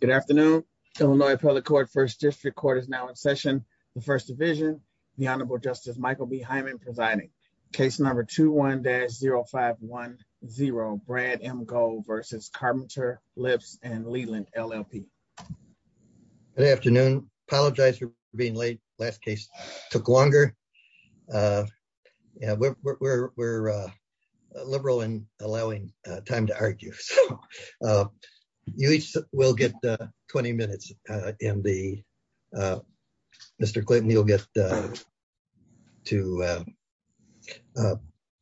Good afternoon, Illinois Appellate Court, 1st District Court is now in session. The First Division, the Honorable Justice Michael B. Hyman presiding. Case number 21-0510, Brad M. Gold v. Carpenter, Lipps & Leland, LLP. Good afternoon. Apologize for being late. Last case took longer. We're liberal in allowing time to argue. You each will get 20 minutes. Mr. Clinton, you'll get to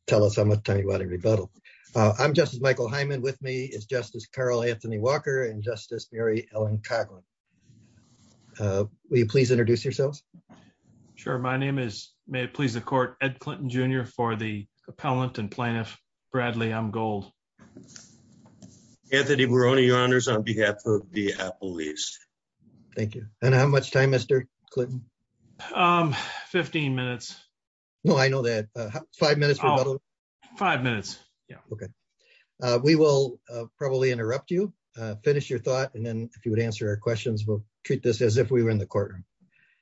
tell us how much time you want to rebuttal. I'm Justice Michael Hyman. With me is Justice Carl Anthony Walker and Justice Mary Ellen Coughlin. Will you please introduce yourselves? Sure. My name is, may it please the court, Ed Clinton Jr. for the Appellant and Plaintiff, Brad M. Gold. Anthony Barone, Your Honors, on behalf of the Appellees. Thank you. And how much time, Mr. Clinton? 15 minutes. No, I know that. Five minutes for rebuttal? Five minutes. We will probably interrupt you, finish your thought, and then if you would answer our questions, we'll treat this as if we were in the courtroom.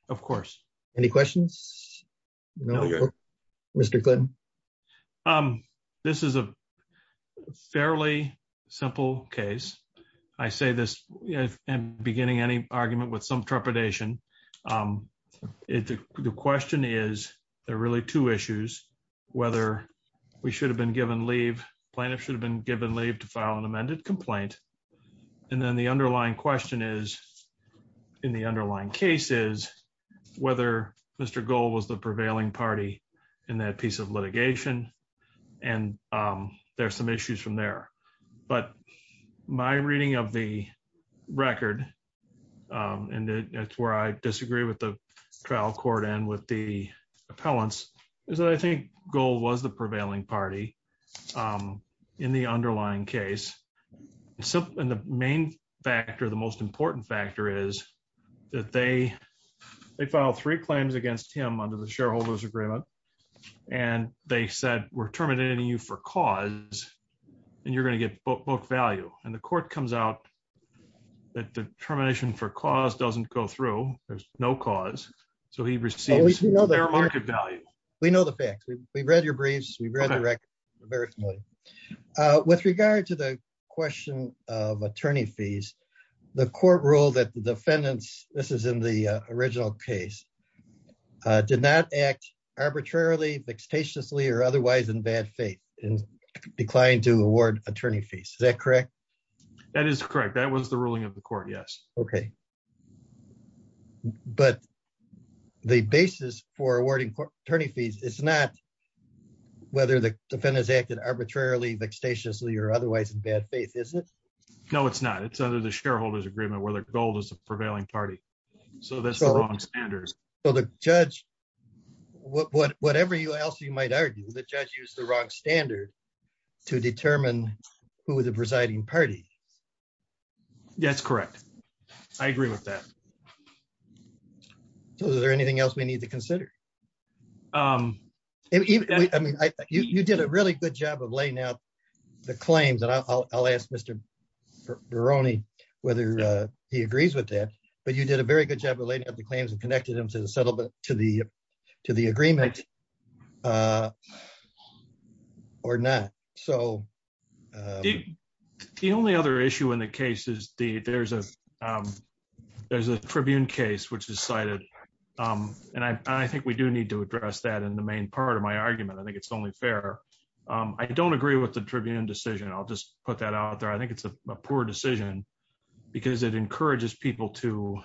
Of course. Any questions? Mr. Clinton? This is a fairly simple case. I say this in beginning any argument with some trepidation. The question is, there are really two issues, whether we should have been given leave, plaintiff should have been given leave to file an amended complaint, and then the underlying question is, in the underlying case is, whether Mr. Gold was the prevailing party in that piece of litigation, and there's some issues from there. But my reading of the record, and that's where I disagree with the trial court and with the appellants, is that I think Gold was the prevailing party in the underlying case. And the main factor, the most important factor is that they filed three claims against him under the shareholders agreement, and they said, we're terminating you for cause, and you're going to get book value. And the court comes out that the termination for cause doesn't go through, there's no cause, so he receives market value. We know the facts, we've read your briefs, we've read the record, we're very familiar. With regard to the question of attorney fees, the court ruled that the defendants, this is in the original case, did not act arbitrarily, vexatiously, or otherwise in bad faith, and declined to award attorney fees, is that correct? That is correct, that was the ruling of the court, yes. Okay, but the basis for awarding attorney fees, it's not whether the defendants acted arbitrarily, vexatiously, or otherwise in bad faith, is it? No, it's not, it's under the shareholders agreement where the Gold is the prevailing party, so that's the wrong standards. So the judge, whatever else you might argue, the judge used the wrong standard to determine who the presiding party. That's correct, I agree with that. So is there anything else we need to consider? Even, I mean, you did a really good job of laying out the claims, and I'll ask Mr. Beroni whether he agrees with that, but you did a very good job of laying out the claims and connecting them to the settlement, to the agreement, or not, so. The only other issue in the case is the, there's a, there's a Tribune case which is cited, and I think we do need to address that in the main part of my argument, I think it's only fair. I don't agree with the Tribune decision, I'll just put that out there, I think it's a poor decision, because it encourages people to,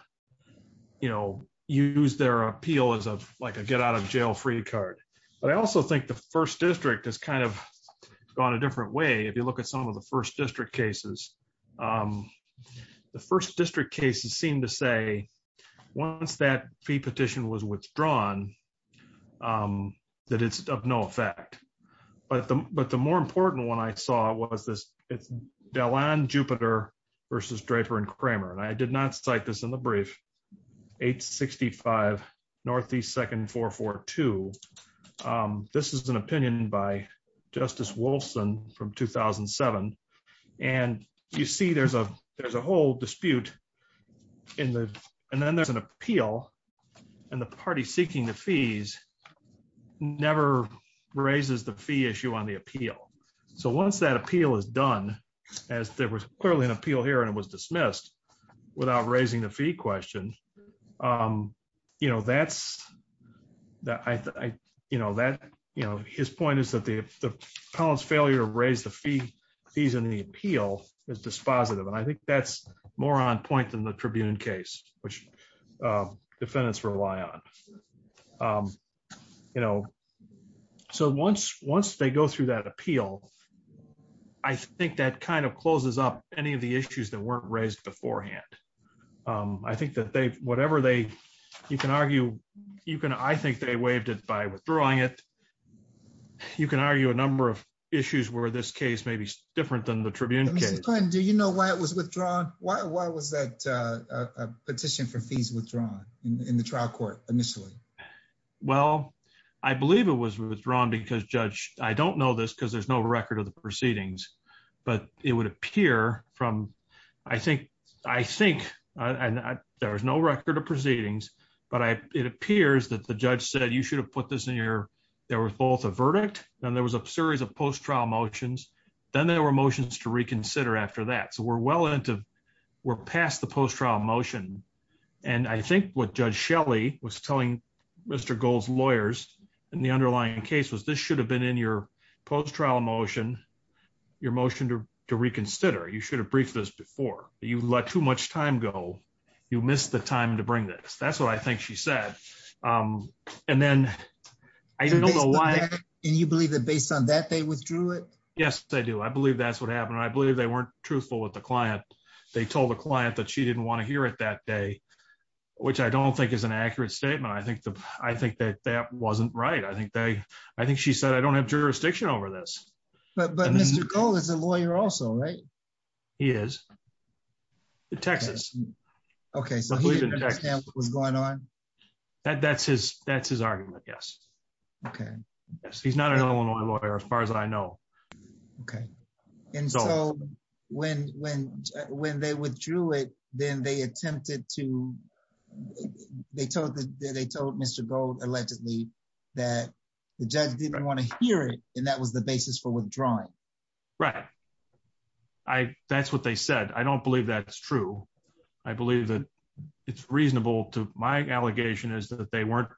you know, use their appeal as a, like a get out of jail free card. But I also think the 1st District has kind of gone a different way, if you look at some of the 1st District cases. The 1st District cases seem to say, once that fee petition was withdrawn, that it's of no effect. But the, but the more important one I saw was this, it's Delon, Jupiter versus Draper and Kramer, and I did not cite this in the brief. 865 Northeast 2nd 442, this is an opinion by Justice Wolfson from 2007, and you see there's a, there's a whole dispute in the, and then there's an appeal, and the party seeking the fees never raises the fee issue on the appeal. So once that appeal is done, as there was clearly an appeal here and it was dismissed, without raising the fee question, you know, that's, that I, you know, that, you know, his point is that the appellant's failure to raise the fee, fees in the appeal is dispositive, and I think that's more on point than the Tribune case, which defendants rely on. You know, so once, once they go through that appeal, I think that kind of closes up any of the issues that weren't raised beforehand. I think that they, whatever they, you can argue, you can, I think they waived it by withdrawing it. You can argue a number of issues where this case may be different than the Tribune case. Do you know why it was withdrawn? Why was that petition for fees withdrawn in the trial court initially? Well, I believe it was withdrawn because, Judge, I don't know this because there's no I think, I think, and there was no record of proceedings, but I, it appears that the judge said you should have put this in your, there was both a verdict, then there was a series of post-trial motions, then there were motions to reconsider after that. So we're well into, we're past the post-trial motion, and I think what Judge Shelley was telling Mr. Gold's lawyers in the underlying case was this should have been in your post-trial motion, your motion to reconsider. You should have briefed us before. You let too much time go. You missed the time to bring this. That's what I think she said. And then I don't know why. And you believe that based on that, they withdrew it? Yes, I do. I believe that's what happened. I believe they weren't truthful with the client. They told the client that she didn't want to hear it that day, which I don't think is an accurate statement. I think the, I think that that wasn't right. I think they, I think she said, I don't have jurisdiction over this. But Mr. Gold is a lawyer also, right? He is, in Texas. Okay, so he didn't understand what was going on? That's his argument, yes. Okay. He's not an Illinois lawyer, as far as I know. Okay. And so when they withdrew it, then they attempted to, they told Mr. Gold, allegedly, that the judge didn't want to hear it, and that was the basis for withdrawing. Right. I, that's what they said. I don't believe that's true. I believe that it's reasonable to, my allegation is that they weren't,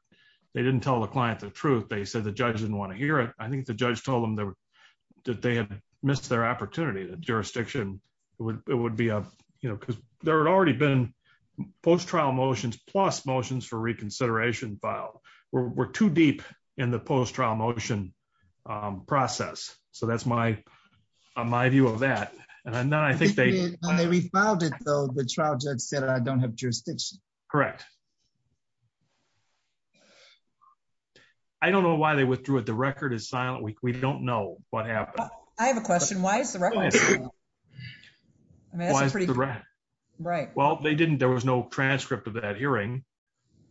they didn't tell the client the truth. They said the judge didn't want to hear it. I think the judge told them that they had missed their opportunity. The jurisdiction would, it would be a, you know, because there had already been post-trial motions plus motions for reconsideration filed. We're too deep in the post-trial motion process. So that's my, my view of that. And then I think they. When they refiled it though, the trial judge said, I don't have jurisdiction. Correct. I don't know why they withdrew it. The record is silent. We don't know what happened. I have a question. Why is the record silent? I mean, that's a pretty good question. Right. Well, they didn't, there was no transcript of that hearing.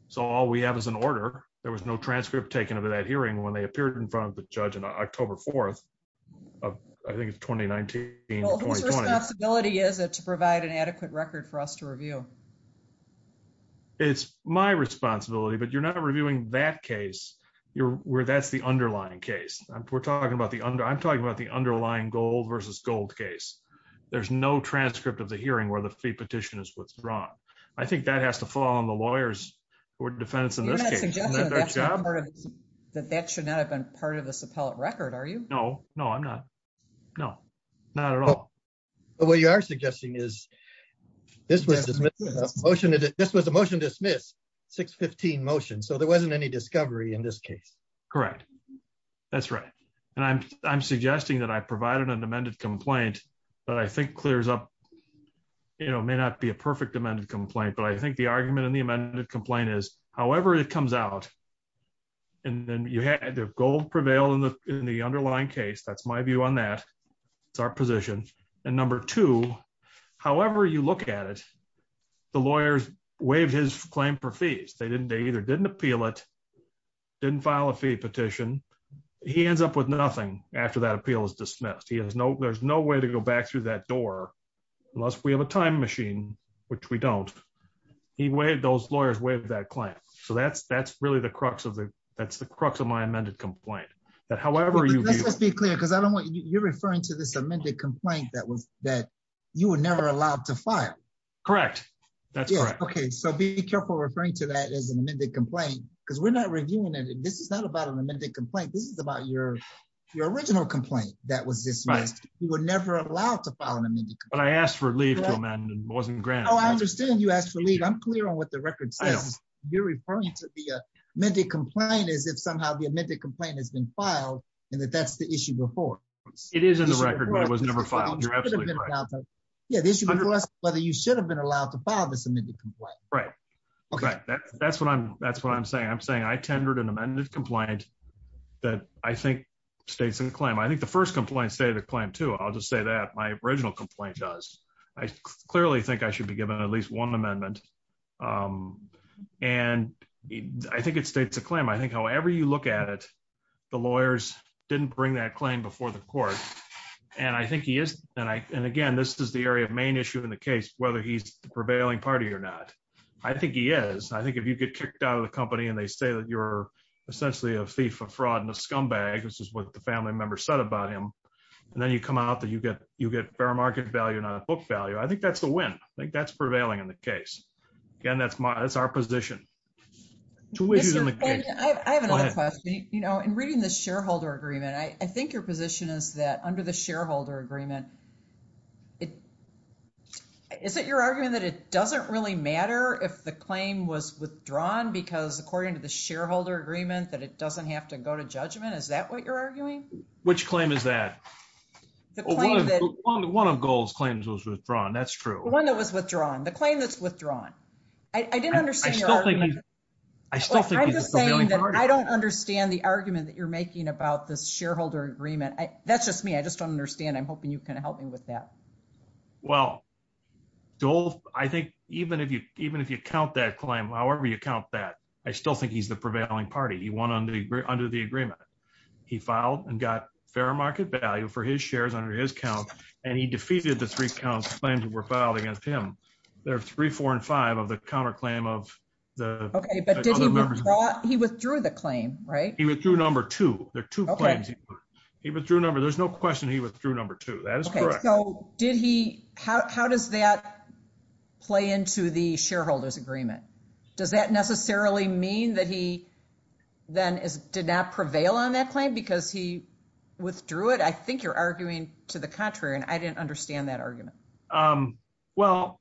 So all we have is an order. There was no transcript taken of that hearing when they appeared in front of the judge on I think it's 2019, 2020. Well, whose responsibility is it to provide an adequate record for us to review? It's my responsibility, but you're not reviewing that case. You're where that's the underlying case. We're talking about the under, I'm talking about the underlying gold versus gold case. There's no transcript of the hearing where the fee petition is withdrawn. I think that has to fall on the lawyers or defendants in this case. You're not suggesting that that should not have been part of this appellate record, are you? No, no, I'm not. No, not at all. But what you are suggesting is this was a motion to dismiss 615 motion. So there wasn't any discovery in this case. Correct. That's right. And I'm suggesting that I provided an amended complaint, but I think clears up, you know, may not be a perfect amended complaint, but I think the argument in the amended complaint is however it comes out, and then you had the gold prevail in the underlying case. That's my view on that. It's our position. And number two, however you look at it, the lawyers waived his claim for fees. They didn't, they either didn't appeal it, didn't file a fee petition. He ends up with nothing after that appeal is dismissed. He has no, there's no way to go back through that door unless we have a time machine, which we don't. He waived, those lawyers waived that claim. So that's, that's really the crux of the, that's the crux of my amended complaint. That however you. Let's be clear, because I don't want, you're referring to this amended complaint that was, that you were never allowed to file. Correct. That's right. Okay. So be careful referring to that as an amended complaint, because we're not reviewing it. This is not about an amended complaint. This is about your, your original complaint that was dismissed. You were never allowed to file an amended complaint. But I asked for leave to amend and it wasn't granted. I understand you asked for leave. I'm clear on what the record says. You're referring to the amended complaint as if somehow the amended complaint has been filed and that that's the issue before. It is in the record, but it was never filed. Yeah. The issue is whether you should have been allowed to file this amended complaint. Right. Okay. That's what I'm, that's what I'm saying. I'm saying I tendered an amended complaint that I think states in the claim. I think the first complaint stated the claim too. I'll just say that my original complaint does. I clearly think I should be given at least one amendment. And I think it states a claim. I think however you look at it, the lawyers didn't bring that claim before the court. And I think he is. And I, and again, this is the area of main issue in the case, whether he's the prevailing party or not. I think he is. I think if you get kicked out of the company and they say that you're essentially a thief of fraud and a scumbag, this is what the family member said about him. And then you come out that you get, you get fair market value, not a book value. I think that's the win. I think that's prevailing in the case. Again, that's my, that's our position. Two ways in the case. I have another question, you know, in reading the shareholder agreement, I think your position is that under the shareholder agreement, it, is it your argument that it doesn't really matter if the claim was withdrawn because according to the shareholder agreement, that it doesn't have to go to judgment. Is that what you're arguing? Which claim is that? One of gold's claims was withdrawn. That's true. One that was withdrawn. The claim that's withdrawn. I didn't understand. I still think I'm just saying that I don't understand the argument that you're making about this shareholder agreement. That's just me. I just don't understand. I'm hoping you can help me with that. Well, I think even if you, even if you count that claim, however you count that, I still think he's the prevailing party. He won under the agreement. He filed and got fair market value for his shares under his count. And he defeated the three counts claims that were filed against him. There are three, four, and five of the counter claim of the. He withdrew the claim, right? He withdrew number two. There are two claims. He withdrew number. There's no question he withdrew number two. That is correct. So did he, how, how does that play into the shareholder's agreement? Does that necessarily mean that he then is, did not prevail on that claim because he. Withdrew it. I think you're arguing to the contrary, and I didn't understand that argument. Well,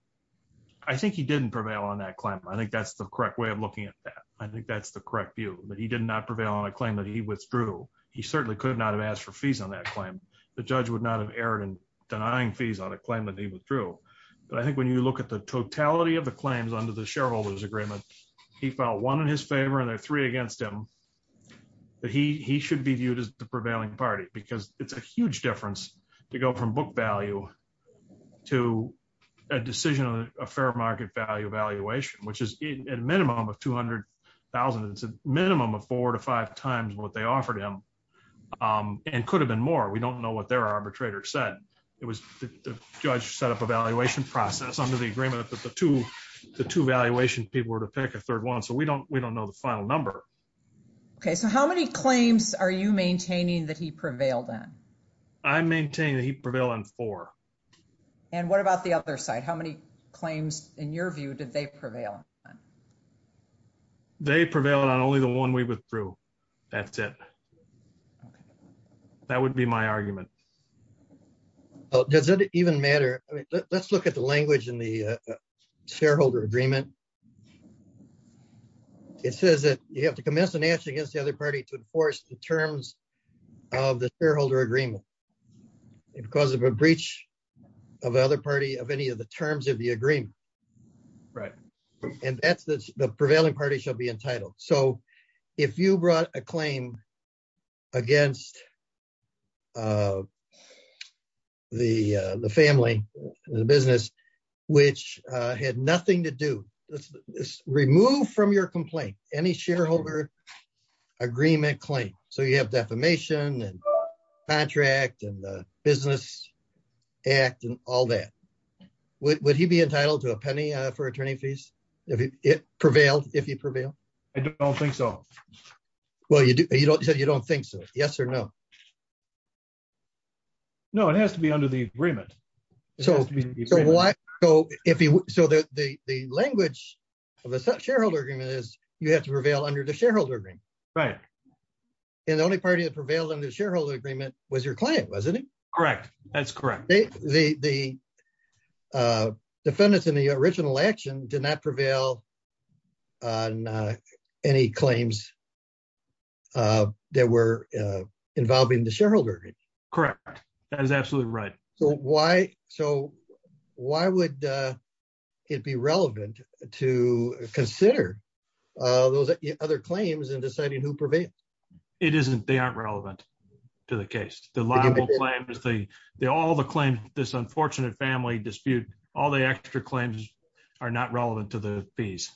I think he didn't prevail on that claim. I think that's the correct way of looking at that. I think that's the correct view that he did not prevail on a claim that he withdrew. He certainly could not have asked for fees on that claim. The judge would not have erred in denying fees on a claim that he withdrew. But I think when you look at the totality of the claims under the shareholder's agreement, he felt one in his favor and there are three against him. That he, he should be viewed as the prevailing party because it's a huge difference to go from book value to a decision on a fair market value valuation, which is at a minimum of 200,000. It's a minimum of four to five times what they offered him and could have been more. We don't know what their arbitrator said. It was the judge set up a valuation process under the agreement that the two, the two valuation people were to pick a third one. So we don't, we don't know the final number. Okay. So how many claims are you maintaining that he prevailed on? I maintain that he prevailed on four. And what about the other side? How many claims in your view did they prevail? They prevailed on only the one we withdrew. That's it. That would be my argument. Does it even matter? Let's look at the language in the shareholder agreement. It says that you have to commence an action against the other party to enforce the terms of the shareholder agreement because of a breach of the other party of any of the terms of the agreement, right? And that's the prevailing party shall be entitled. So if you brought a claim against the family, the business, which had nothing to do, remove from your complaint, any shareholder agreement claim. So you have defamation and contract and the business act and all that. Would he be entitled to a penny for attorney fees? It prevailed if you prevail? I don't think so. Well, you said you don't think so. Yes or no? No, it has to be under the agreement. So the language of a shareholder agreement is you have to prevail under the shareholder agreement. Right. And the only party that prevailed under the shareholder agreement was your client, wasn't it? Correct. That's correct. The defendants in the original action did not prevail on any claims that were involving the shareholder. Correct. That is absolutely right. So why? So why would it be relevant to consider those other claims and deciding who prevailed? It isn't. They aren't relevant to the case. The libel claims, all the claims, this unfortunate family dispute, all the extra claims are not relevant to the fees.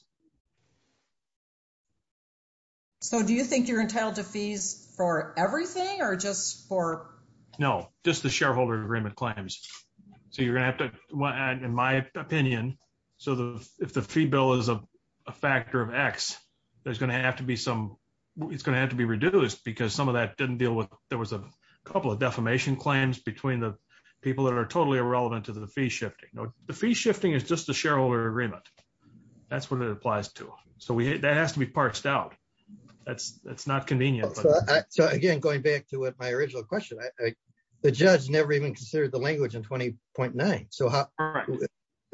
So do you think you're entitled to fees for everything or just for? No, just the shareholder agreement claims. So you're going to have to, in my opinion, so if the fee bill is a factor of X, there's going to have to be some, it's going to have to be reduced because some of that didn't deal with, there was a couple of defamation claims between the people that are totally irrelevant to the fee shifting. The fee shifting is just the shareholder agreement. That's what it applies to. So that has to be parched out. That's not convenient. So again, going back to what my original question, the judge never even considered the language in 20.9. So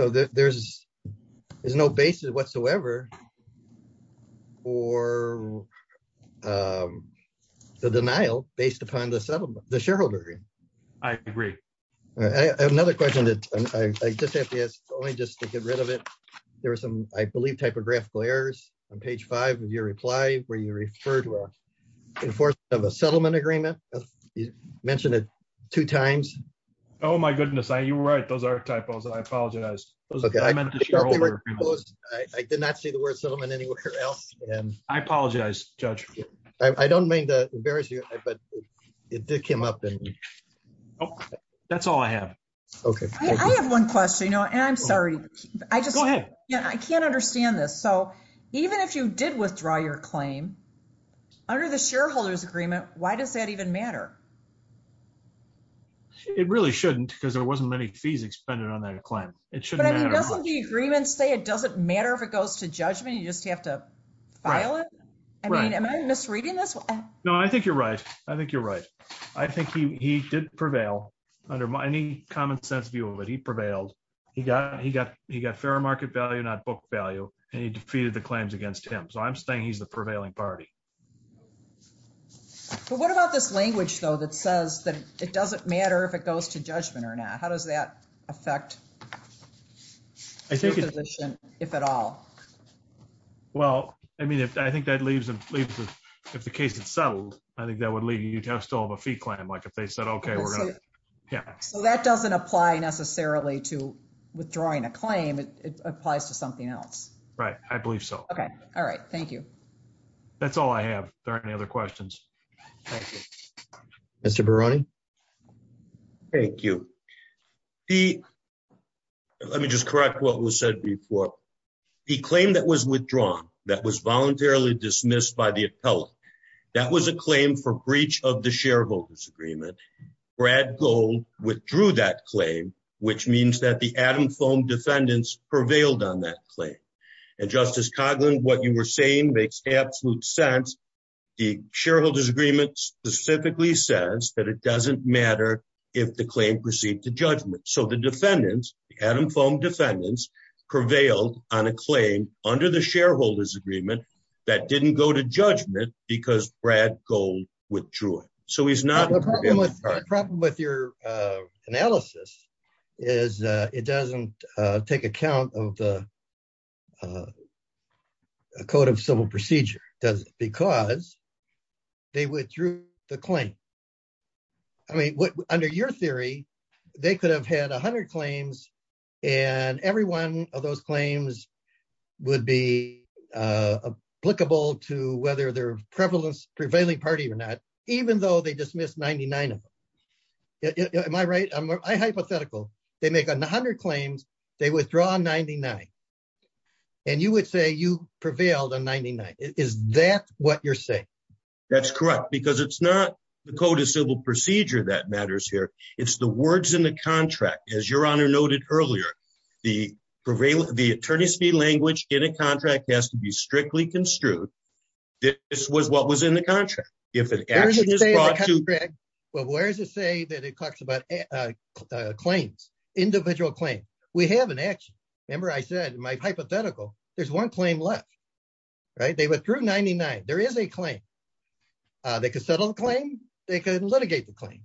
there's, there's no basis whatsoever or the denial based upon the settlement, the shareholder. I agree. I have another question that I just have to ask only just to get rid of it. There was some, I believe, typographical errors on page five of your reply, where you referred to a enforcement of a settlement agreement. You mentioned it two times. Oh my goodness. You were right. Those are typos. I apologize. Okay. I did not see the word settlement anywhere else. And I apologize, judge. I don't mean to embarrass you, but it did come up and that's all I have. Okay. I have one question, you know, and I'm sorry, I just, yeah, I can't understand this. So even if you did withdraw your claim under the shareholders agreement, why does that even matter? It really shouldn't because there wasn't many fees expended on that claim. It shouldn't matter. But I mean, doesn't the agreement say it doesn't matter if it goes to judgment, you just have to file it? I mean, am I misreading this? No, I think you're right. I think you're right. I think he, he did prevail under any common sense view of it. He prevailed. He got, he got, he got fair market value, not book value, and he defeated the claims against him. So I'm saying he's the prevailing party. But what about this language though, that says that it doesn't matter if it goes to judgment or not? How does that affect? I think if at all. Well, I mean, if I think that leaves, if the case had settled, I think that would lead you to have still have a fee claim. Like if they said, okay, we're going to, yeah. So that doesn't apply necessarily to withdrawing a claim. It applies to something else. Right. I believe so. Okay. All right. Thank you. That's all I have. There aren't any other questions. Mr. Thank you. The, let me just correct what was said before. He claimed that was withdrawn. That was voluntarily dismissed by the appellate. That was a claim for breach of the shareholder's agreement. Brad gold withdrew that claim, which means that the Adam foam defendants prevailed on that claim. And justice Coughlin, what you were saying makes absolute sense. The shareholder's agreement specifically says that it doesn't matter if the claim proceed to judgment. So the defendants, the Adam foam defendants prevailed on a claim under the shareholder's agreement that didn't go to judgment because Brad gold withdrew it. So he's not Problem with your analysis is it doesn't take account of the code of civil procedure because they withdrew the claim. I mean, under your theory, they could have had a hundred claims and everyone of those claims would be applicable to whether their prevalence prevailing party or not, even though they dismissed 99 of them. Am I right? I'm hypothetical. They make a hundred claims. They withdraw 99. And you would say you prevailed on 99. Is that what you're saying? That's correct, because it's not the code of civil procedure that matters here. It's the words in the contract. As your honor noted earlier, the prevail, the attorney speed language in a contract has to be strictly construed. This was what was in the contract. If it is, well, where does it say that it talks about claims, individual claim? We have an action. Remember, I said my hypothetical, there's one claim left, right? They withdrew 99. There is a claim. They could settle the claim. They couldn't litigate the claim.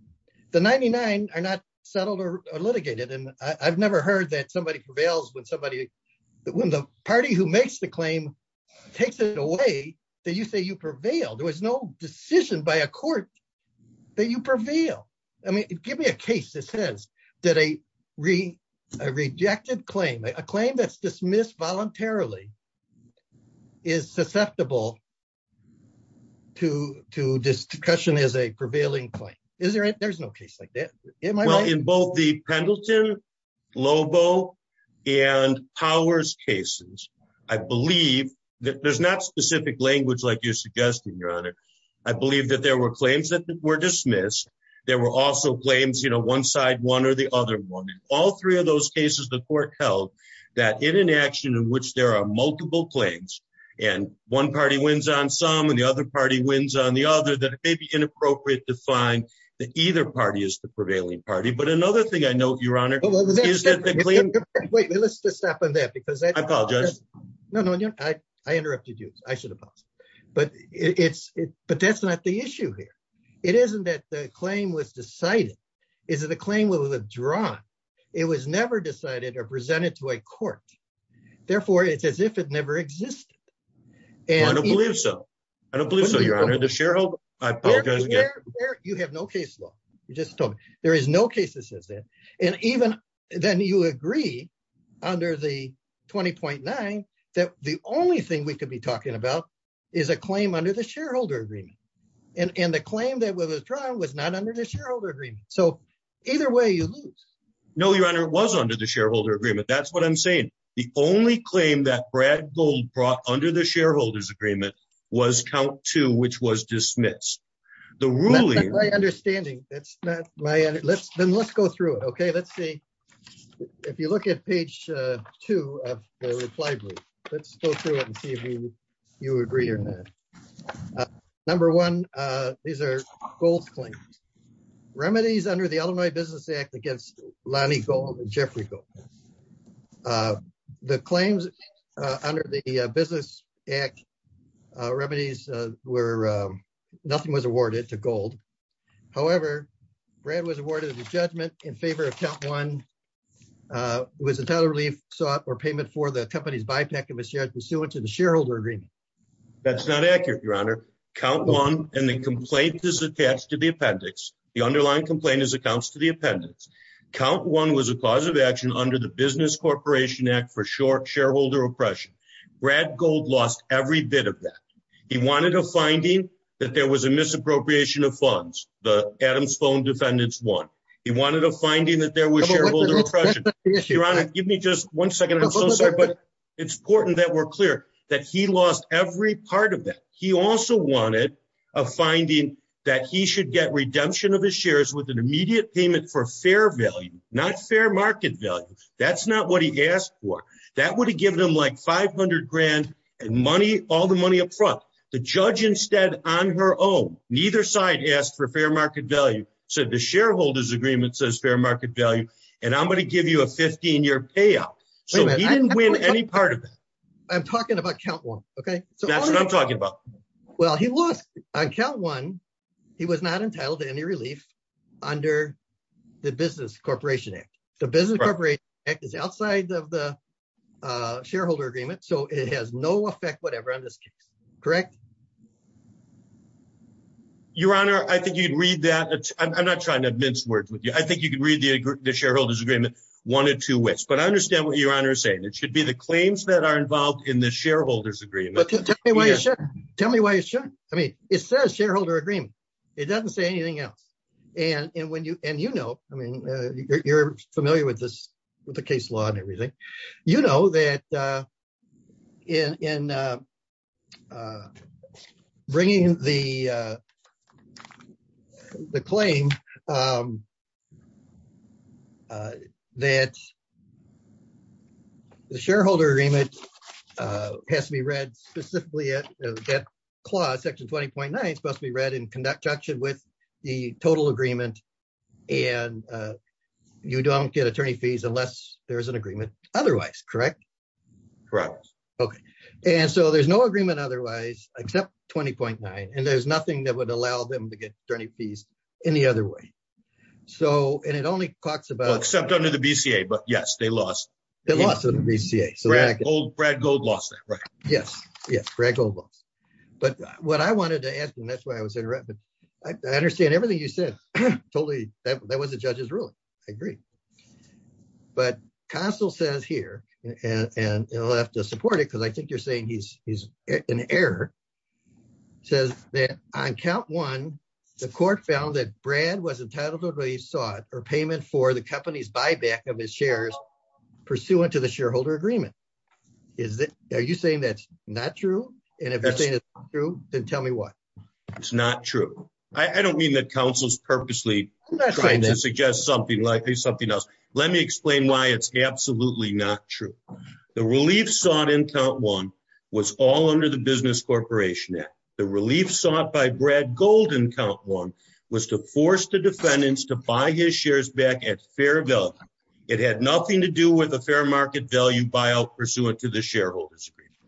The 99 are not settled or litigated. And I've never heard that somebody prevails when somebody when the party who makes the claim takes it away that you say you prevail. There was no decision by a court that you prevail. I mean, give me a case that says that a rejected claim, a claim that's dismissed voluntarily is susceptible to discussion as a prevailing claim. There's no case like that. In both the Pendleton, Lobo and Powers cases, I believe that there's not specific language like you're suggesting, Your Honor. I believe that there were claims that were dismissed. There were also claims, you know, one side, one or the other one. All three of those cases, the court held that in an action in which there are multiple claims and one party wins on some and the other party wins on the other, that it may be inappropriate to find that either party is the prevailing party. But another thing I know, Your Honor. Wait, let's just stop on that because I apologize. No, no, I interrupted you. I should apologize. But that's not the issue here. It isn't that the claim was decided. It's that the claim was withdrawn. It was never decided or presented to a court. Therefore, it's as if it never existed. I don't believe so. I don't believe so, Your Honor. Does Sheryl, I apologize again. You have no case law. You just told me there is no case that says that. And even then you agree under the 20.9 that the only thing we could be talking about is a claim under the shareholder agreement. And the claim that was withdrawn was not under the shareholder agreement. So either way, you lose. No, Your Honor, it was under the shareholder agreement. That's what I'm saying. The only claim that Brad Gold brought under the shareholders agreement was count two, which was dismissed. The ruling. That's not my understanding. That's not my understanding. Then let's go through it. Okay, let's see. If you look at page two of the reply brief, let's go through it and see if you agree or not. Number one, these are Gold's claims. Remedies under the Illinois Business Act against Lonnie Gold and Jeffrey Gold. The claims under the Business Act remedies were nothing was awarded to Gold. However, Brad was awarded a judgment in favor of count one. It was a total relief sought or payment for the company's buyback and was shared pursuant to the shareholder agreement. That's not accurate, Your Honor. Count one and the complaint is attached to the appendix. The underlying complaint is accounts to the appendix. Count one was a cause of action under the Business Corporation Act for short shareholder oppression. Brad Gold lost every bit of that. He wanted a finding that there was a misappropriation of funds. The Adams phone defendants won. He wanted a finding that there was shareholder oppression. Your Honor, give me just one second. I'm so sorry, but it's important that we're clear that he lost every part of that. He also wanted a finding that he should get redemption of his shares with an immediate payment for fair value, not fair market value. That's not what he asked for. That would have given him like 500 grand and all the money up front. The judge instead, on her own, neither side asked for fair market value, said the shareholder's agreement says fair market value, and I'm going to give you a 15-year payout. So he didn't win any part of that. I'm talking about count one, okay? That's what I'm talking about. Well, he lost on count one. He was not entitled to any relief under the Business Corporation Act. The Business Corporation Act is outside of the shareholder agreement, so it has no effect whatever on this case, correct? Your Honor, I think you'd read that. I'm not trying to mince words with you. I think you can read the shareholder's agreement one or two ways, but I understand what Your Honor is saying. It should be the claims that are involved in the shareholder's agreement. Tell me why it shouldn't. I mean, it says shareholder agreement. It doesn't say anything else. And you know, I mean, you're familiar with the case law and everything. You know that in bringing the claim that the shareholder agreement has to be read specifically that clause, section 20.9, it's supposed to be read in conjunction with the total agreement. And you don't get attorney fees unless there's an agreement otherwise, correct? Correct. Okay. And so there's no agreement otherwise, except 20.9. And there's nothing that would allow them to get attorney fees any other way. So, and it only talks about... Except under the BCA, but yes, they lost. They lost under the BCA. Brad Gold lost that, right? Yes. Yes, Brad Gold lost. But what I wanted to ask, and that's why I was interrupted. I understand everything you said. Totally. That was the judge's ruling. I agree. But Council says here, and I'll have to support it, because I think you're saying he's an error, says that on count one, the court found that Brad was entitled to a resort or payment for the company's buyback of his shares pursuant to the shareholder agreement. Is that... Are you saying that's not true? And if you're saying it's not true, then tell me what? It's not true. I don't mean that Council's purposely trying to suggest something like something else. Let me explain why it's absolutely not true. The relief sought in count one was all under the Business Corporation Act. The relief sought by Brad Gold in count one was to force the defendants to buy his shares back at fair value. It had nothing to do with a fair market value buyout pursuant to the shareholder's agreement.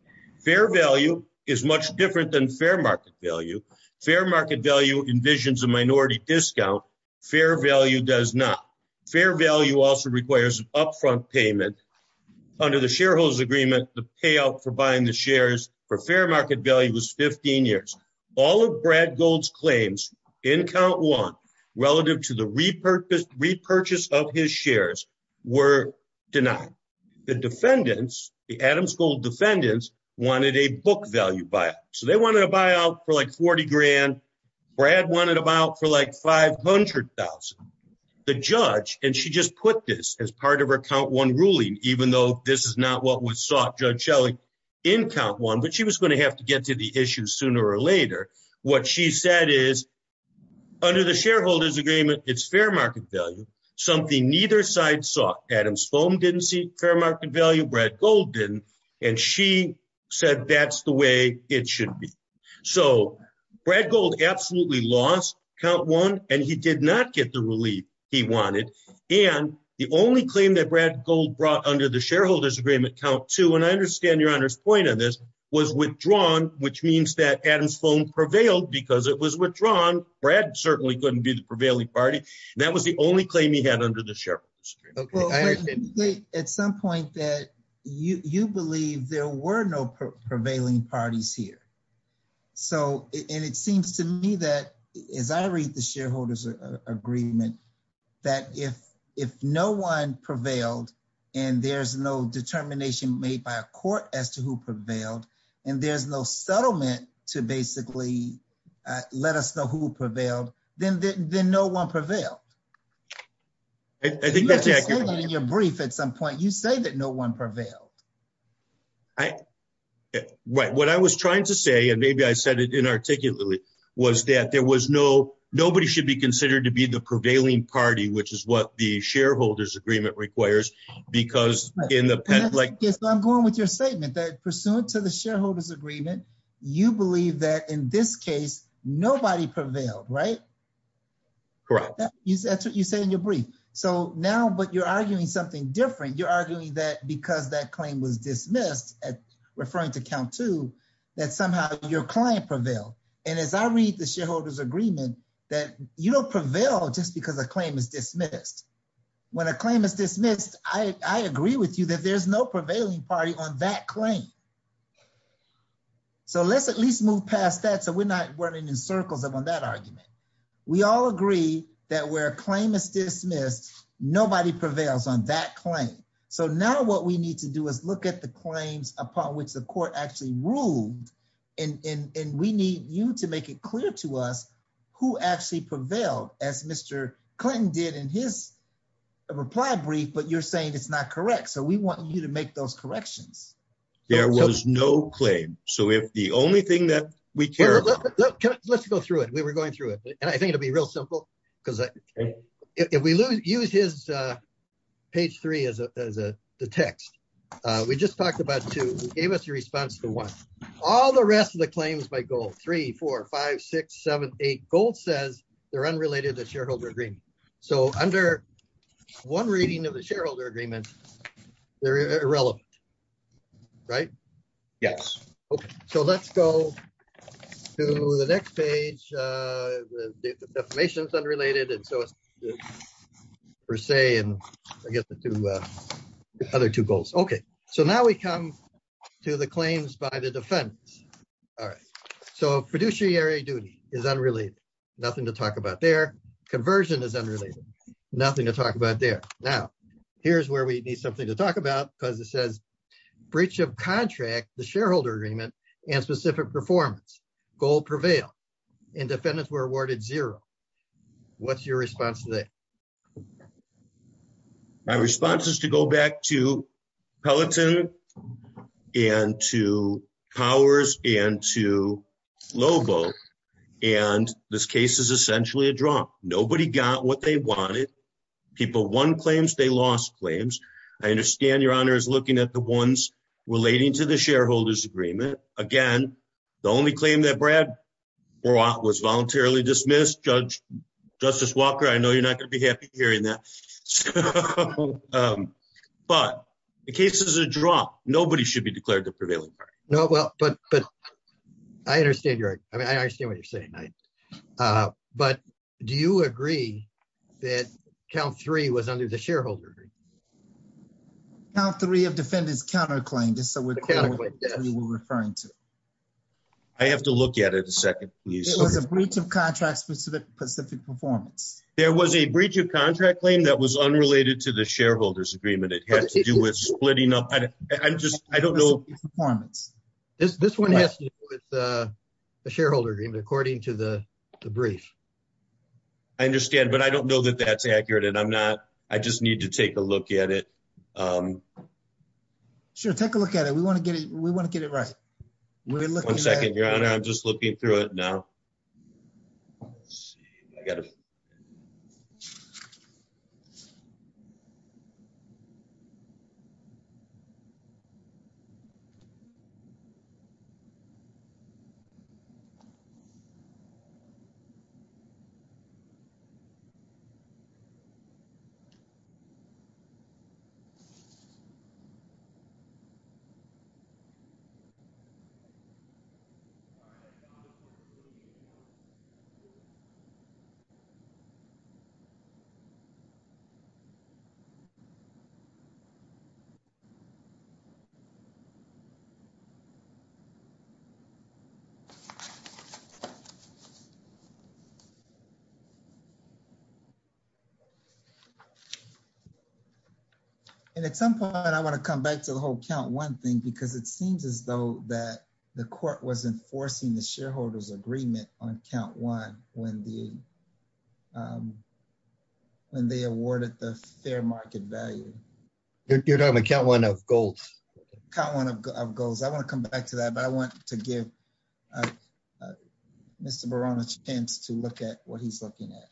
Fair value is much different than fair market value. Fair market value envisions a minority discount. Fair value does not. Fair value also requires upfront payment. Under the shareholder's agreement, the payout for buying the shares for fair market value was 15 years. All of Brad Gold's claims in count one relative to the repurchase of his shares were denied. The defendants, the Adams Gold defendants, wanted a book value buyout. So they wanted a buyout for like 40 grand. Brad wanted a buyout for like 500,000. The judge, and she just put this as part of her count one ruling, even though this is not what was sought, Judge Shelley, in count one, but she was going to have to get to the issue sooner or later. What she said is, under the shareholder's agreement, it's fair market value. Something neither side sought. Adams Foam didn't seek fair market value. Brad Gold didn't. And she said that's the way it should be. So Brad Gold absolutely lost count one, and he did not get the relief he wanted. And the only claim that Brad Gold brought under the shareholder's agreement, count two, and I understand your honor's point on this, was withdrawn, which means that Adams Foam prevailed because it was withdrawn. Brad certainly couldn't be the prevailing party. That was the only claim he had under the shareholder's agreement. Okay, I understand. At some point that you believe there were no prevailing parties here. So, and it seems to me that, as I read the shareholder's agreement, that if no one prevailed, and there's no determination made by a court as to who prevailed, and there's no settlement to basically let us know who prevailed, then no one prevailed. I think that's accurate. In your brief at some point, you say that no one prevailed. Right. What I was trying to say, and maybe I said it inarticulately, was that there was no, nobody should be considered to be the prevailing party, which is what the shareholder's agreement requires. Because in the past, like, Yes, I'm going with your statement that pursuant to the shareholder's agreement, you believe that in this case, nobody prevailed, right? Correct. That's what you say in your brief. So now, but you're arguing something different. You're arguing that because that claim was dismissed at referring to count two, that somehow your client prevailed. And as I read the shareholder's agreement, that you don't prevail just because a claim is dismissed. When a claim is dismissed, I agree with you that there's no prevailing party on that claim. So let's at least move past that. So we're not running in circles on that argument. We all agree that where a claim is dismissed, nobody prevails on that claim. So now what we need to do is look at the claims upon which the court actually ruled. And we need you to make it clear to us who actually prevailed, as Mr. Clinton did in his reply brief. But you're saying it's not correct. So we want you to make those corrections. There was no claim. So if the only thing that we care... Let's go through it. We were going through it. And I think it'll be real simple. Because if we use his page three as a text, we just talked about two, gave us a response to one. All the rest of the claims by gold, three, four, five, six, seven, eight, gold says they're unrelated to the shareholder agreement. So under one reading of the shareholder agreement, they're irrelevant. Right? Yes. Okay. So let's go to the next page. The affirmation is unrelated. And so it's per se. And I guess the other two goals. Okay. So now we come to the claims by the defendants. All right. So fiduciary duty is unrelated. Nothing to talk about there. Conversion is unrelated. Nothing to talk about there. Now, here's where we need something to talk about. Because it says breach of contract, the shareholder agreement, and specific performance. Gold prevailed. And defendants were awarded zero. What's your response to that? My response is to go back to Peloton and to Powers and to Lobo. And this case is essentially a draw. Nobody got what they wanted. People won claims. They lost claims. I understand your honor is looking at the ones relating to the shareholder's agreement. Again, the only claim that Brad brought was voluntarily dismissed. Justice Walker, I know you're not going to be happy hearing that. But the case is a draw. Nobody should be declared the prevailing party. No, but I understand what you're saying. But do you agree that count three was under the shareholder? Count three of defendants counterclaimed. I have to look at it a second. It was a breach of contract specific performance. There was a breach of contract claim that was unrelated to the shareholder's agreement. It has to do with splitting up. I don't know. This one has to do with the shareholder agreement according to the brief. I understand, but I don't know that that's accurate. And I'm not. I just need to take a look at it. Sure, take a look at it. We want to get it. We want to get it right. One second, your honor. I'm just looking through it. Now, let's see. I got it. So. And at some point, I want to come back to the whole count one thing, because it seems as though that the court was enforcing the shareholder's agreement on count one when they awarded the fair market value. You're talking about count one of goals. Count one of goals. I want to come back to that. But I want to give Mr. Barona a chance to look at what he's looking at.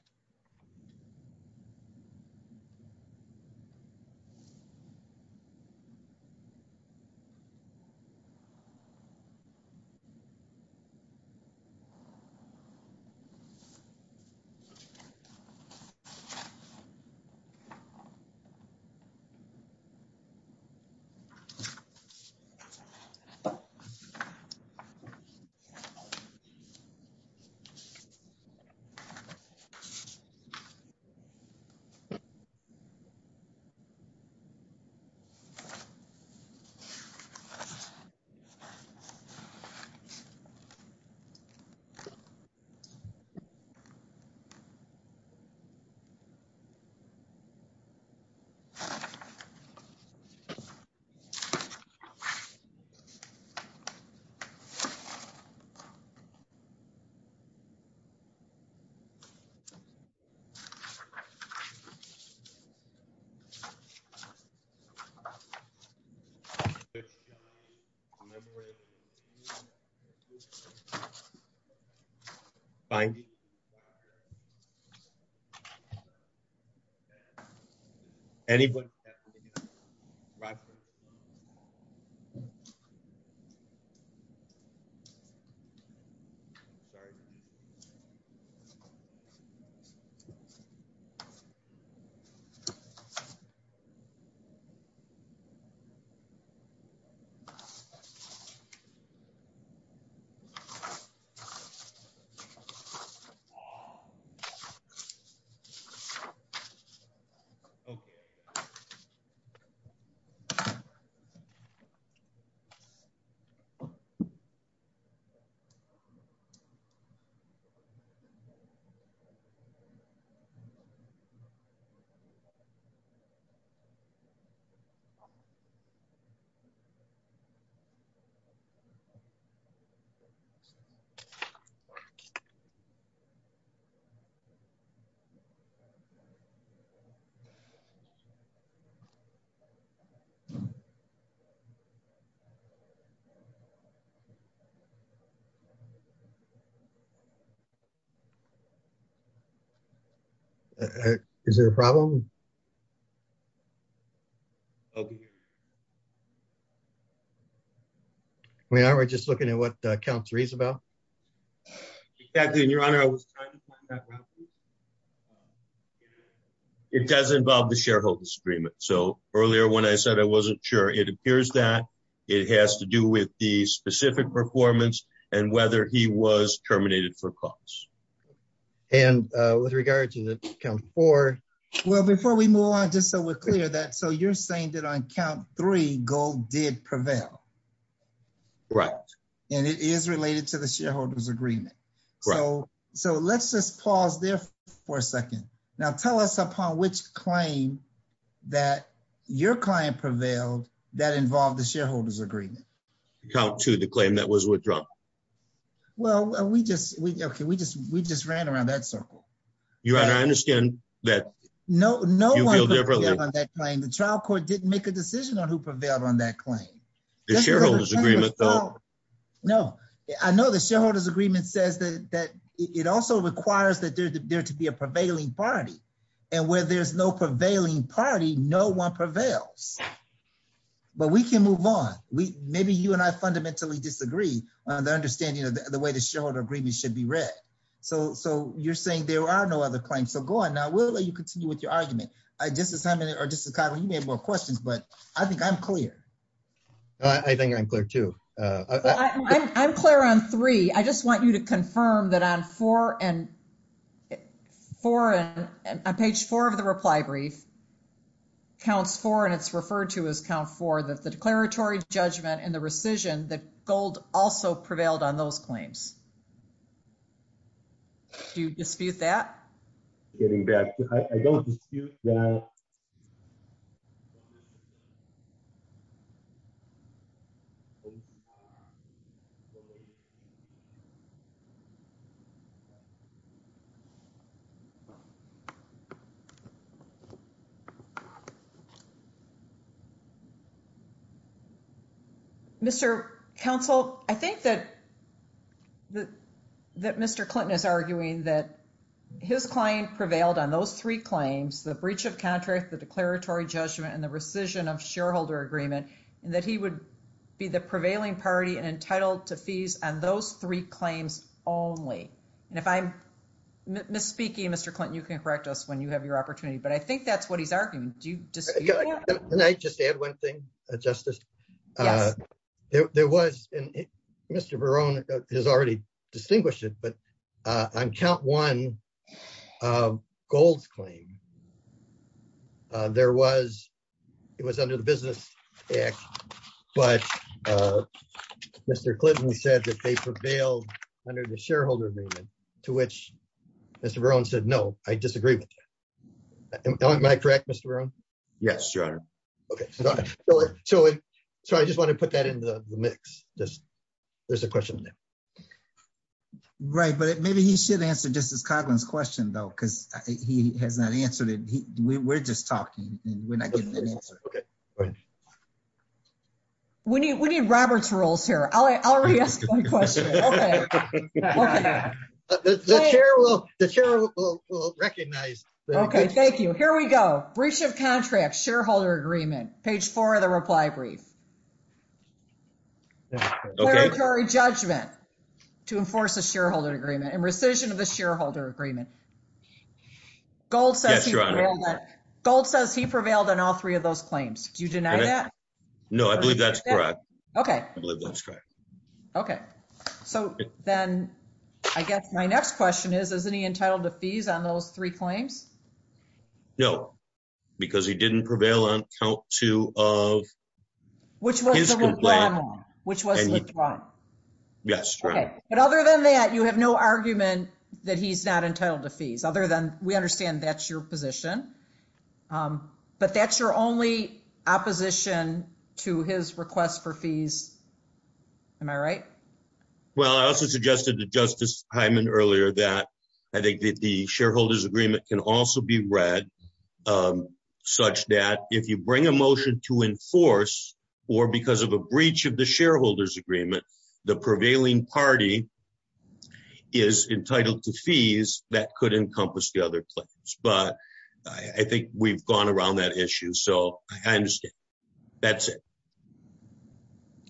Memorandum. Fine. Anybody. So. Okay. So. Is there a problem? I'll be here. We are. We're just looking at what count three is about. And your honor, I was trying to find that. It does involve the shareholder's agreement. So earlier when I said I wasn't sure, it appears that it has to do with the specific performance and whether he was terminated for cause. And with regard to the count four. Well, before we move on, just so we're clear that so you're saying that on count three, gold did prevail. Right. And it is related to the shareholder's agreement. So let's just pause there for a second. Now, tell us upon which claim that your client prevailed that involved the shareholder's agreement. Count two, the claim that was withdrawn. Well, we just we just we just ran around that circle. Your honor, I understand that. No, no, on that claim, the trial court didn't make a decision on who prevailed on that claim. The shareholder's agreement, though. No, I know the shareholder's agreement says that it also requires that there to be a prevailing party. And where there's no prevailing party, no one prevails. But we can move on. Maybe you and I fundamentally disagree on the understanding of the way the shareholder agreement should be read. So so you're saying there are no other claims. So go on now. We'll let you continue with your argument. I just as I'm in it or just a couple of questions, but I think I'm clear. I think I'm clear, too. I'm clear on three. I just want you to confirm that on four and four and page four of the reply brief. Counts for and it's referred to as count for the declaratory judgment and the rescission that gold also prevailed on those claims. Do you dispute that? Getting back. Mr. Counsel, I think that. The that Mr. Clinton is arguing that his client prevailed on those three claims, the breach of contract, the declaratory judgment and the rescission of shareholder agreement, and that he would be the prevailing party on those three claims. And I think that's what he's arguing. To fees and those three claims only. And if I'm misspeaking, Mr. Clinton, you can correct us when you have your opportunity. But I think that's what he's arguing. Do you just. Can I just add one thing, Justice? There was Mr. Barone has already distinguished it, but I'm count one gold claim. There was it was under the Business Act, but. Mr. Clinton said that they prevailed under the shareholder agreement to which Mr. Barone said, no, I disagree with. Am I correct, Mr. Barone? Yes, your honor. OK, so I just want to put that into the mix. Just there's a question. Right, but maybe he should answer Justice Cogman's question, though, because he has not answered it. We're just talking and we're not getting an answer. OK. But we need we need Robert's rules here. I already asked my question. The chair will the chair will recognize. OK, thank you. Here we go. Breach of contract shareholder agreement. Page 4 of the reply brief. Judgment to enforce a shareholder agreement and rescission of the shareholder agreement. Gold says gold says he prevailed on all three of those claims. Do you deny that? No, I believe that's correct. OK, I believe that's correct. OK, so then I guess my next question is, isn't he entitled to fees on those three claims? No, because he didn't prevail on count two of. Which was which was withdrawn. Yes, but other than that, you have no argument that he's not entitled to fees. Other than we understand that's your position, but that's your only opposition to his request for fees. Am I right? Well, I also suggested to Justice Hyman earlier that I think that the shareholders agreement can also be read such that if you bring a motion to enforce or because of a breach of shareholders agreement, the prevailing party is entitled to fees that could encompass the other claims. But I think we've gone around that issue, so I understand that's it.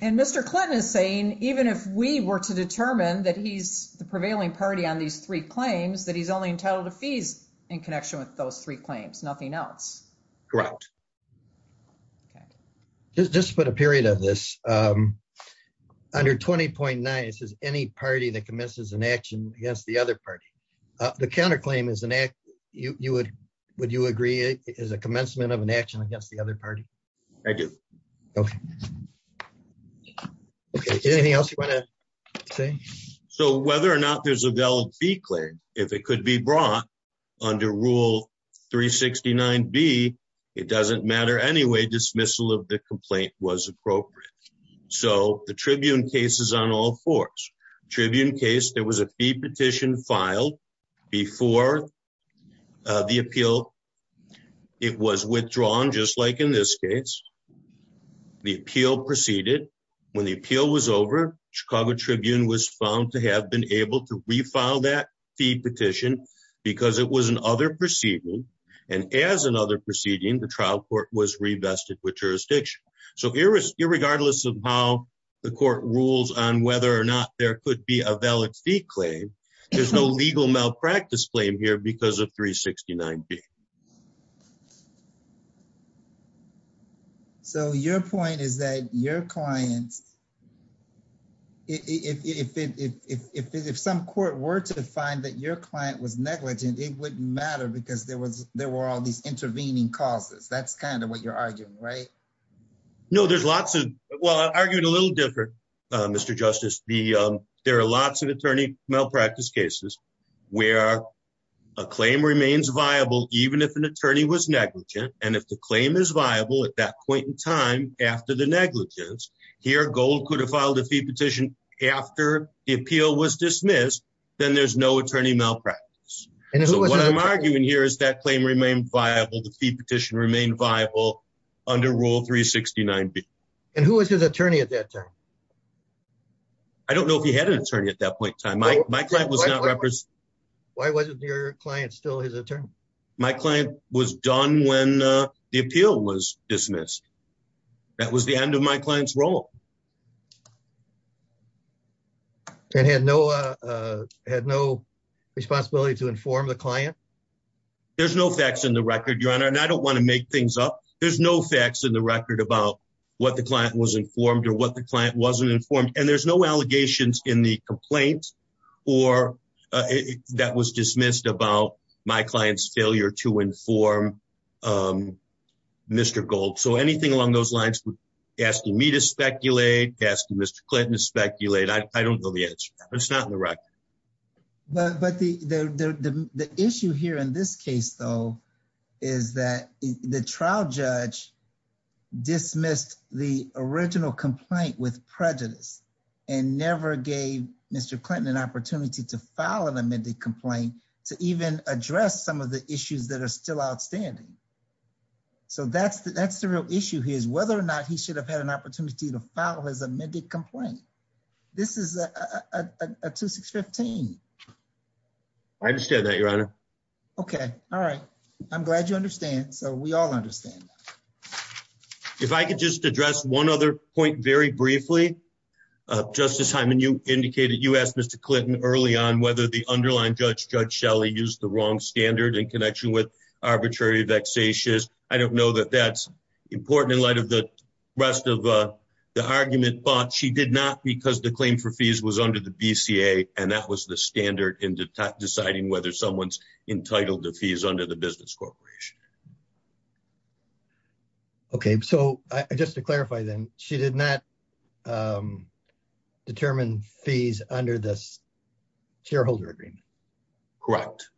And Mr Clinton is saying even if we were to determine that he's the prevailing party on these three claims that he's only entitled to fees in connection with those three claims, nothing else. Correct. OK, just just put a period of this under 20.9. This is any party that commences an action against the other party. The counterclaim is an act you would. Would you agree it is a commencement of an action against the other party? I do. OK. OK, anything else you want to say? So whether or not there's a valid fee claim, if it could be brought under rule 369 B, it doesn't matter anyway. Dismissal of the complaint was appropriate. So the Tribune case is on all fours. Tribune case. There was a fee petition filed before the appeal. It was withdrawn, just like in this case. The appeal proceeded when the appeal was over. Chicago Tribune was found to have been able to refile that fee petition because it was other proceeding. And as another proceeding, the trial court was revested with jurisdiction. So irregardless of how the court rules on whether or not there could be a valid fee claim, there's no legal malpractice claim here because of 369 B. So your point is that your clients. If some court were to find that your client was negligent, it wouldn't matter because there was there were all these intervening causes. That's kind of what you're arguing, right? No, there's lots of well, I argued a little different, Mr. Justice. There are lots of attorney malpractice cases where a claim remains viable, even if an attorney was negligent. And if the claim is viable at that point in time after the negligence, here goes the filed a fee petition after the appeal was dismissed, then there's no attorney malpractice. And what I'm arguing here is that claim remained viable. The fee petition remained viable under Rule 369 B. And who was his attorney at that time? I don't know if he had an attorney at that point in time. Why wasn't your client still his attorney? My client was done when the appeal was dismissed. That was the end of my client's role. And had no had no responsibility to inform the client. There's no facts in the record, Your Honor. And I don't want to make things up. There's no facts in the record about what the client was informed or what the client wasn't informed. And there's no allegations in the complaint or that was dismissed about my client's failure to inform Mr. Gold. So anything along those lines, asking me to speculate, asking Mr. Clinton to speculate, I don't know the answer. It's not in the record. But the issue here in this case, though, is that the trial judge dismissed the original complaint with prejudice and never gave Mr. Clinton an opportunity to file an amended complaint to even address some of the issues that are still outstanding. So that's that's the real issue here is whether or not he should have had an opportunity to file his amended complaint. This is a 2615. I understand that, Your Honor. OK, all right. I'm glad you understand. So we all understand. If I could just address one other point very briefly, Justice Hyman, you indicated you asked Mr. Clinton early on whether the underlying judge, Judge Shelley, used the wrong standard in connection with arbitrary vexatious. I don't know that that's important in light of the rest of the argument, but she did not because the claim for fees was under the BCA. And that was the standard in deciding whether someone's entitled to fees under the Business Corporation. OK, so just to clarify, then, she did not determine fees under this shareholder agreement. Correct.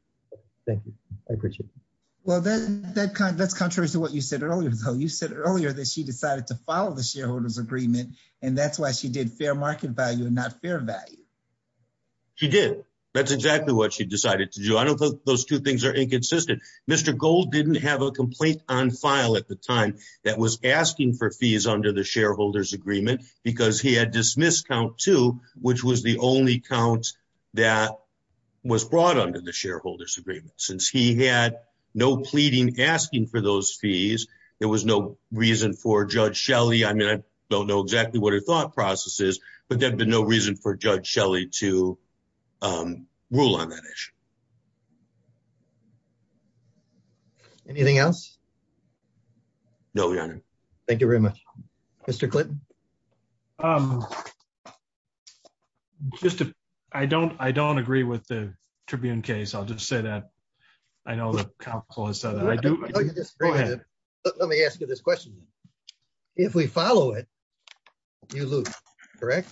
Thank you. I appreciate it. Well, that's contrary to what you said earlier, though. You said earlier that she decided to follow the shareholder's agreement, and that's why she did fair market value and not fair value. She did. That's exactly what she decided to do. I don't think those two things are inconsistent. Mr. Gold didn't have a complaint on file at the time that was asking for fees under the shareholder's agreement because he had dismissed count two, which was the only count that was brought under the shareholder's agreement. Since he had no pleading asking for those fees, there was no reason for Judge Shelley. I mean, I don't know exactly what her thought process is, but there'd be no reason for Judge Shelley to rule on that issue. Anything else? No, Your Honor. Thank you very much. Mr. Clinton? I don't agree with the Tribune case. I'll just say that. I know the counsel has said that. I do. Let me ask you this question. If we follow it, you lose, correct?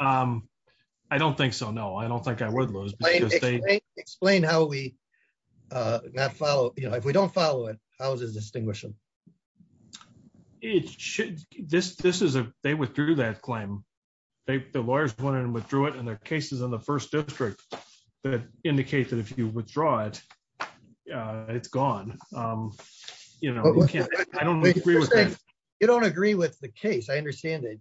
I don't think so. No, I don't think I would lose. Explain how we not follow. If we don't follow it, how does it distinguish them? They withdrew that claim. The lawyers wanted to withdraw it, and there are cases in the first district that indicate that if you withdraw it, it's gone. I don't agree with that. You don't agree with the case. I understand it.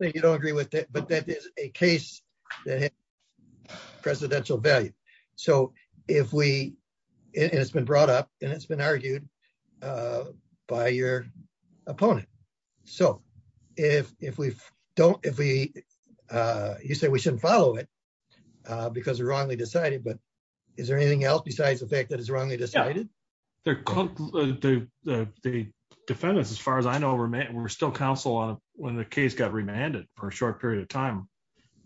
You don't agree with it, but that is a case that has presidential value. So it's been brought up, and it's been argued by your opponent. So you say we shouldn't follow it because it's wrongly decided, but is there anything else besides the fact that it's wrongly decided? The defendants, as far as I know, were still counsel when the case got remanded for a short period of time.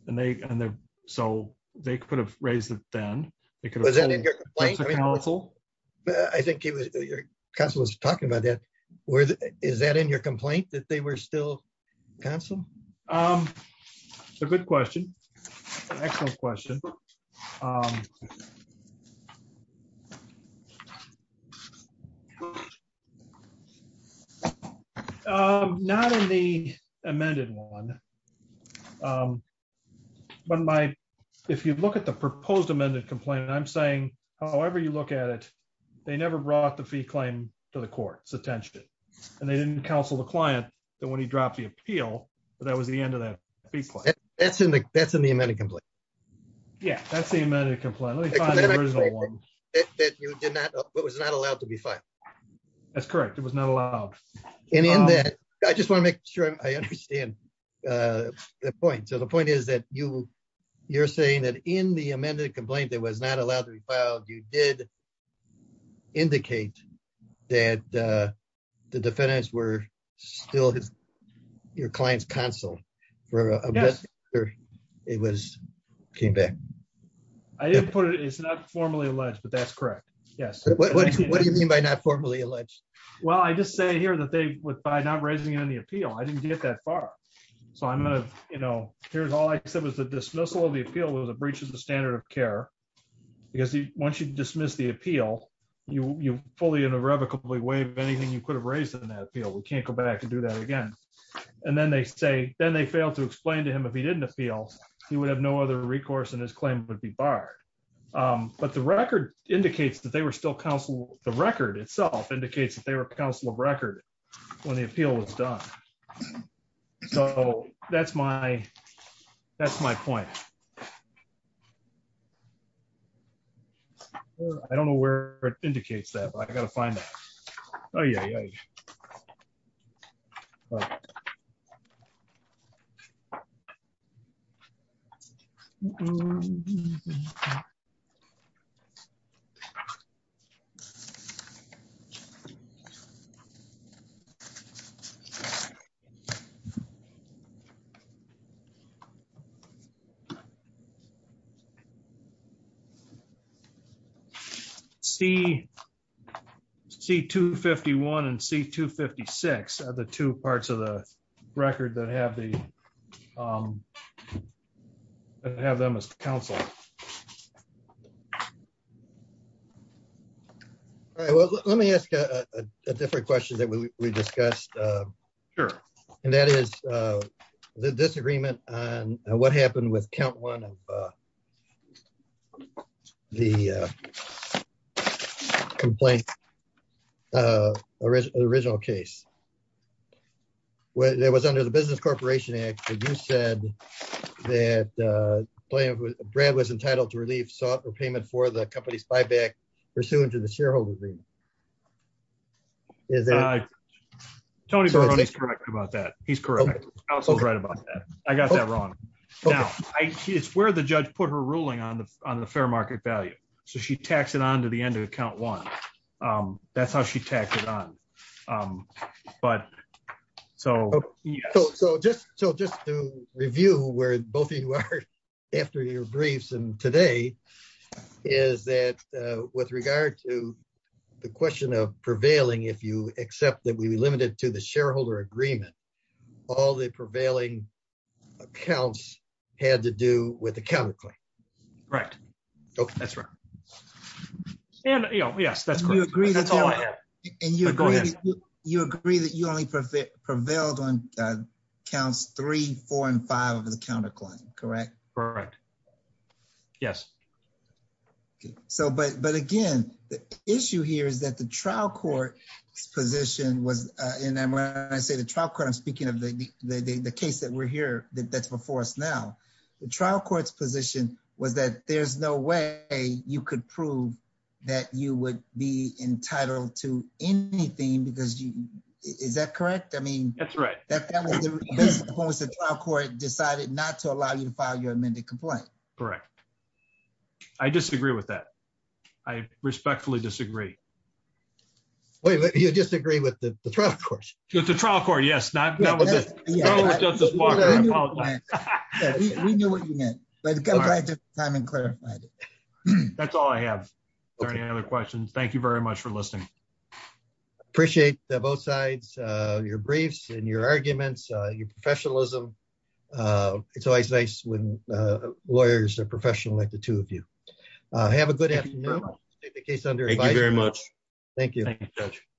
And so they could have raised it then. I think your counsel was talking about that. Is that in your complaint that they were still counsel? It's a good question. Excellent question. Not in the amended one. But if you look at the proposed amended complaint, I'm saying however you look at it, they never brought the fee claim to the court's attention. And they didn't counsel the client when he dropped the appeal, but that was the end of that fee claim. That's in the amended complaint. Yeah, that's the amended complaint. Let me find the original one. It was not allowed to be filed. That's correct. It was not allowed. And in that, I just want to make sure I understand the point. So the point is that you're saying that in the amended complaint that was not allowed to be filed, you did indicate that the defendants were still your client's counsel for a month after it came back. I didn't put it. It's not formally alleged, but that's correct. Yes. What do you mean by not formally alleged? Well, I just say here that by not raising it on the appeal, I didn't get that far. So here's all I said was the dismissal of the appeal was a breach of the standard of care because once you dismiss the appeal, you fully and irrevocably waive anything you could have raised in that appeal. We can't go back and do that again. And then they fail to explain to him if he didn't appeal, he would have no other recourse and his claim would be barred. But the record indicates that they were still counsel. The record itself indicates that they were counsel of record when the appeal was done. So that's my point. I don't know where it indicates that, but I've got to find it. C251 and C256 are the two parts of the record that have them as counsel. All right. Well, let me ask a different question that we discussed. Sure. And that is the disagreement on what happened with count one of the original case. There was under the business corporation act that you said that Brad was entitled to relief sought repayment for the company's buyback pursuant to the shareholder agreement. Is that correct about that? He's correct. I was so right about that. I got that wrong. It's where the judge put her ruling on the fair market value. So she taxed it on to the end of account one. That's how she tacked it on. But so just to review where both of you are after your briefs and today is that with regard to the question of prevailing, if you accept that we be limited to the shareholder agreement, all the prevailing accounts had to do with the counterclaim. Right. That's right. And yes, that's all I have. You agree that you only prevailed on counts three, four, and five of the counterclaim. Correct? Correct. Yes. Okay. So, but, but again, the issue here is that the trial court's position was in, and when I say the trial court, I'm speaking of the, the, the, the case that we're here, that that's before us. Now, the trial court's position was that there's no way you could prove that you would be entitled to anything because you, is that correct? I mean, that's right. That that was the trial court decided not to allow you to file your amended complaint. Correct. I disagree with that. I respectfully disagree. Wait, you disagree with the trial court? The trial court. Yes. Not that was it. We knew what you meant, but go back to the time and clarify it. That's all I have. Are there any other questions? Thank you very much for listening. Appreciate that both sides, your briefs and your arguments, your professionalism. It's always nice when lawyers are professional like the two of you. Have a good afternoon. Thank you very much. Thank you.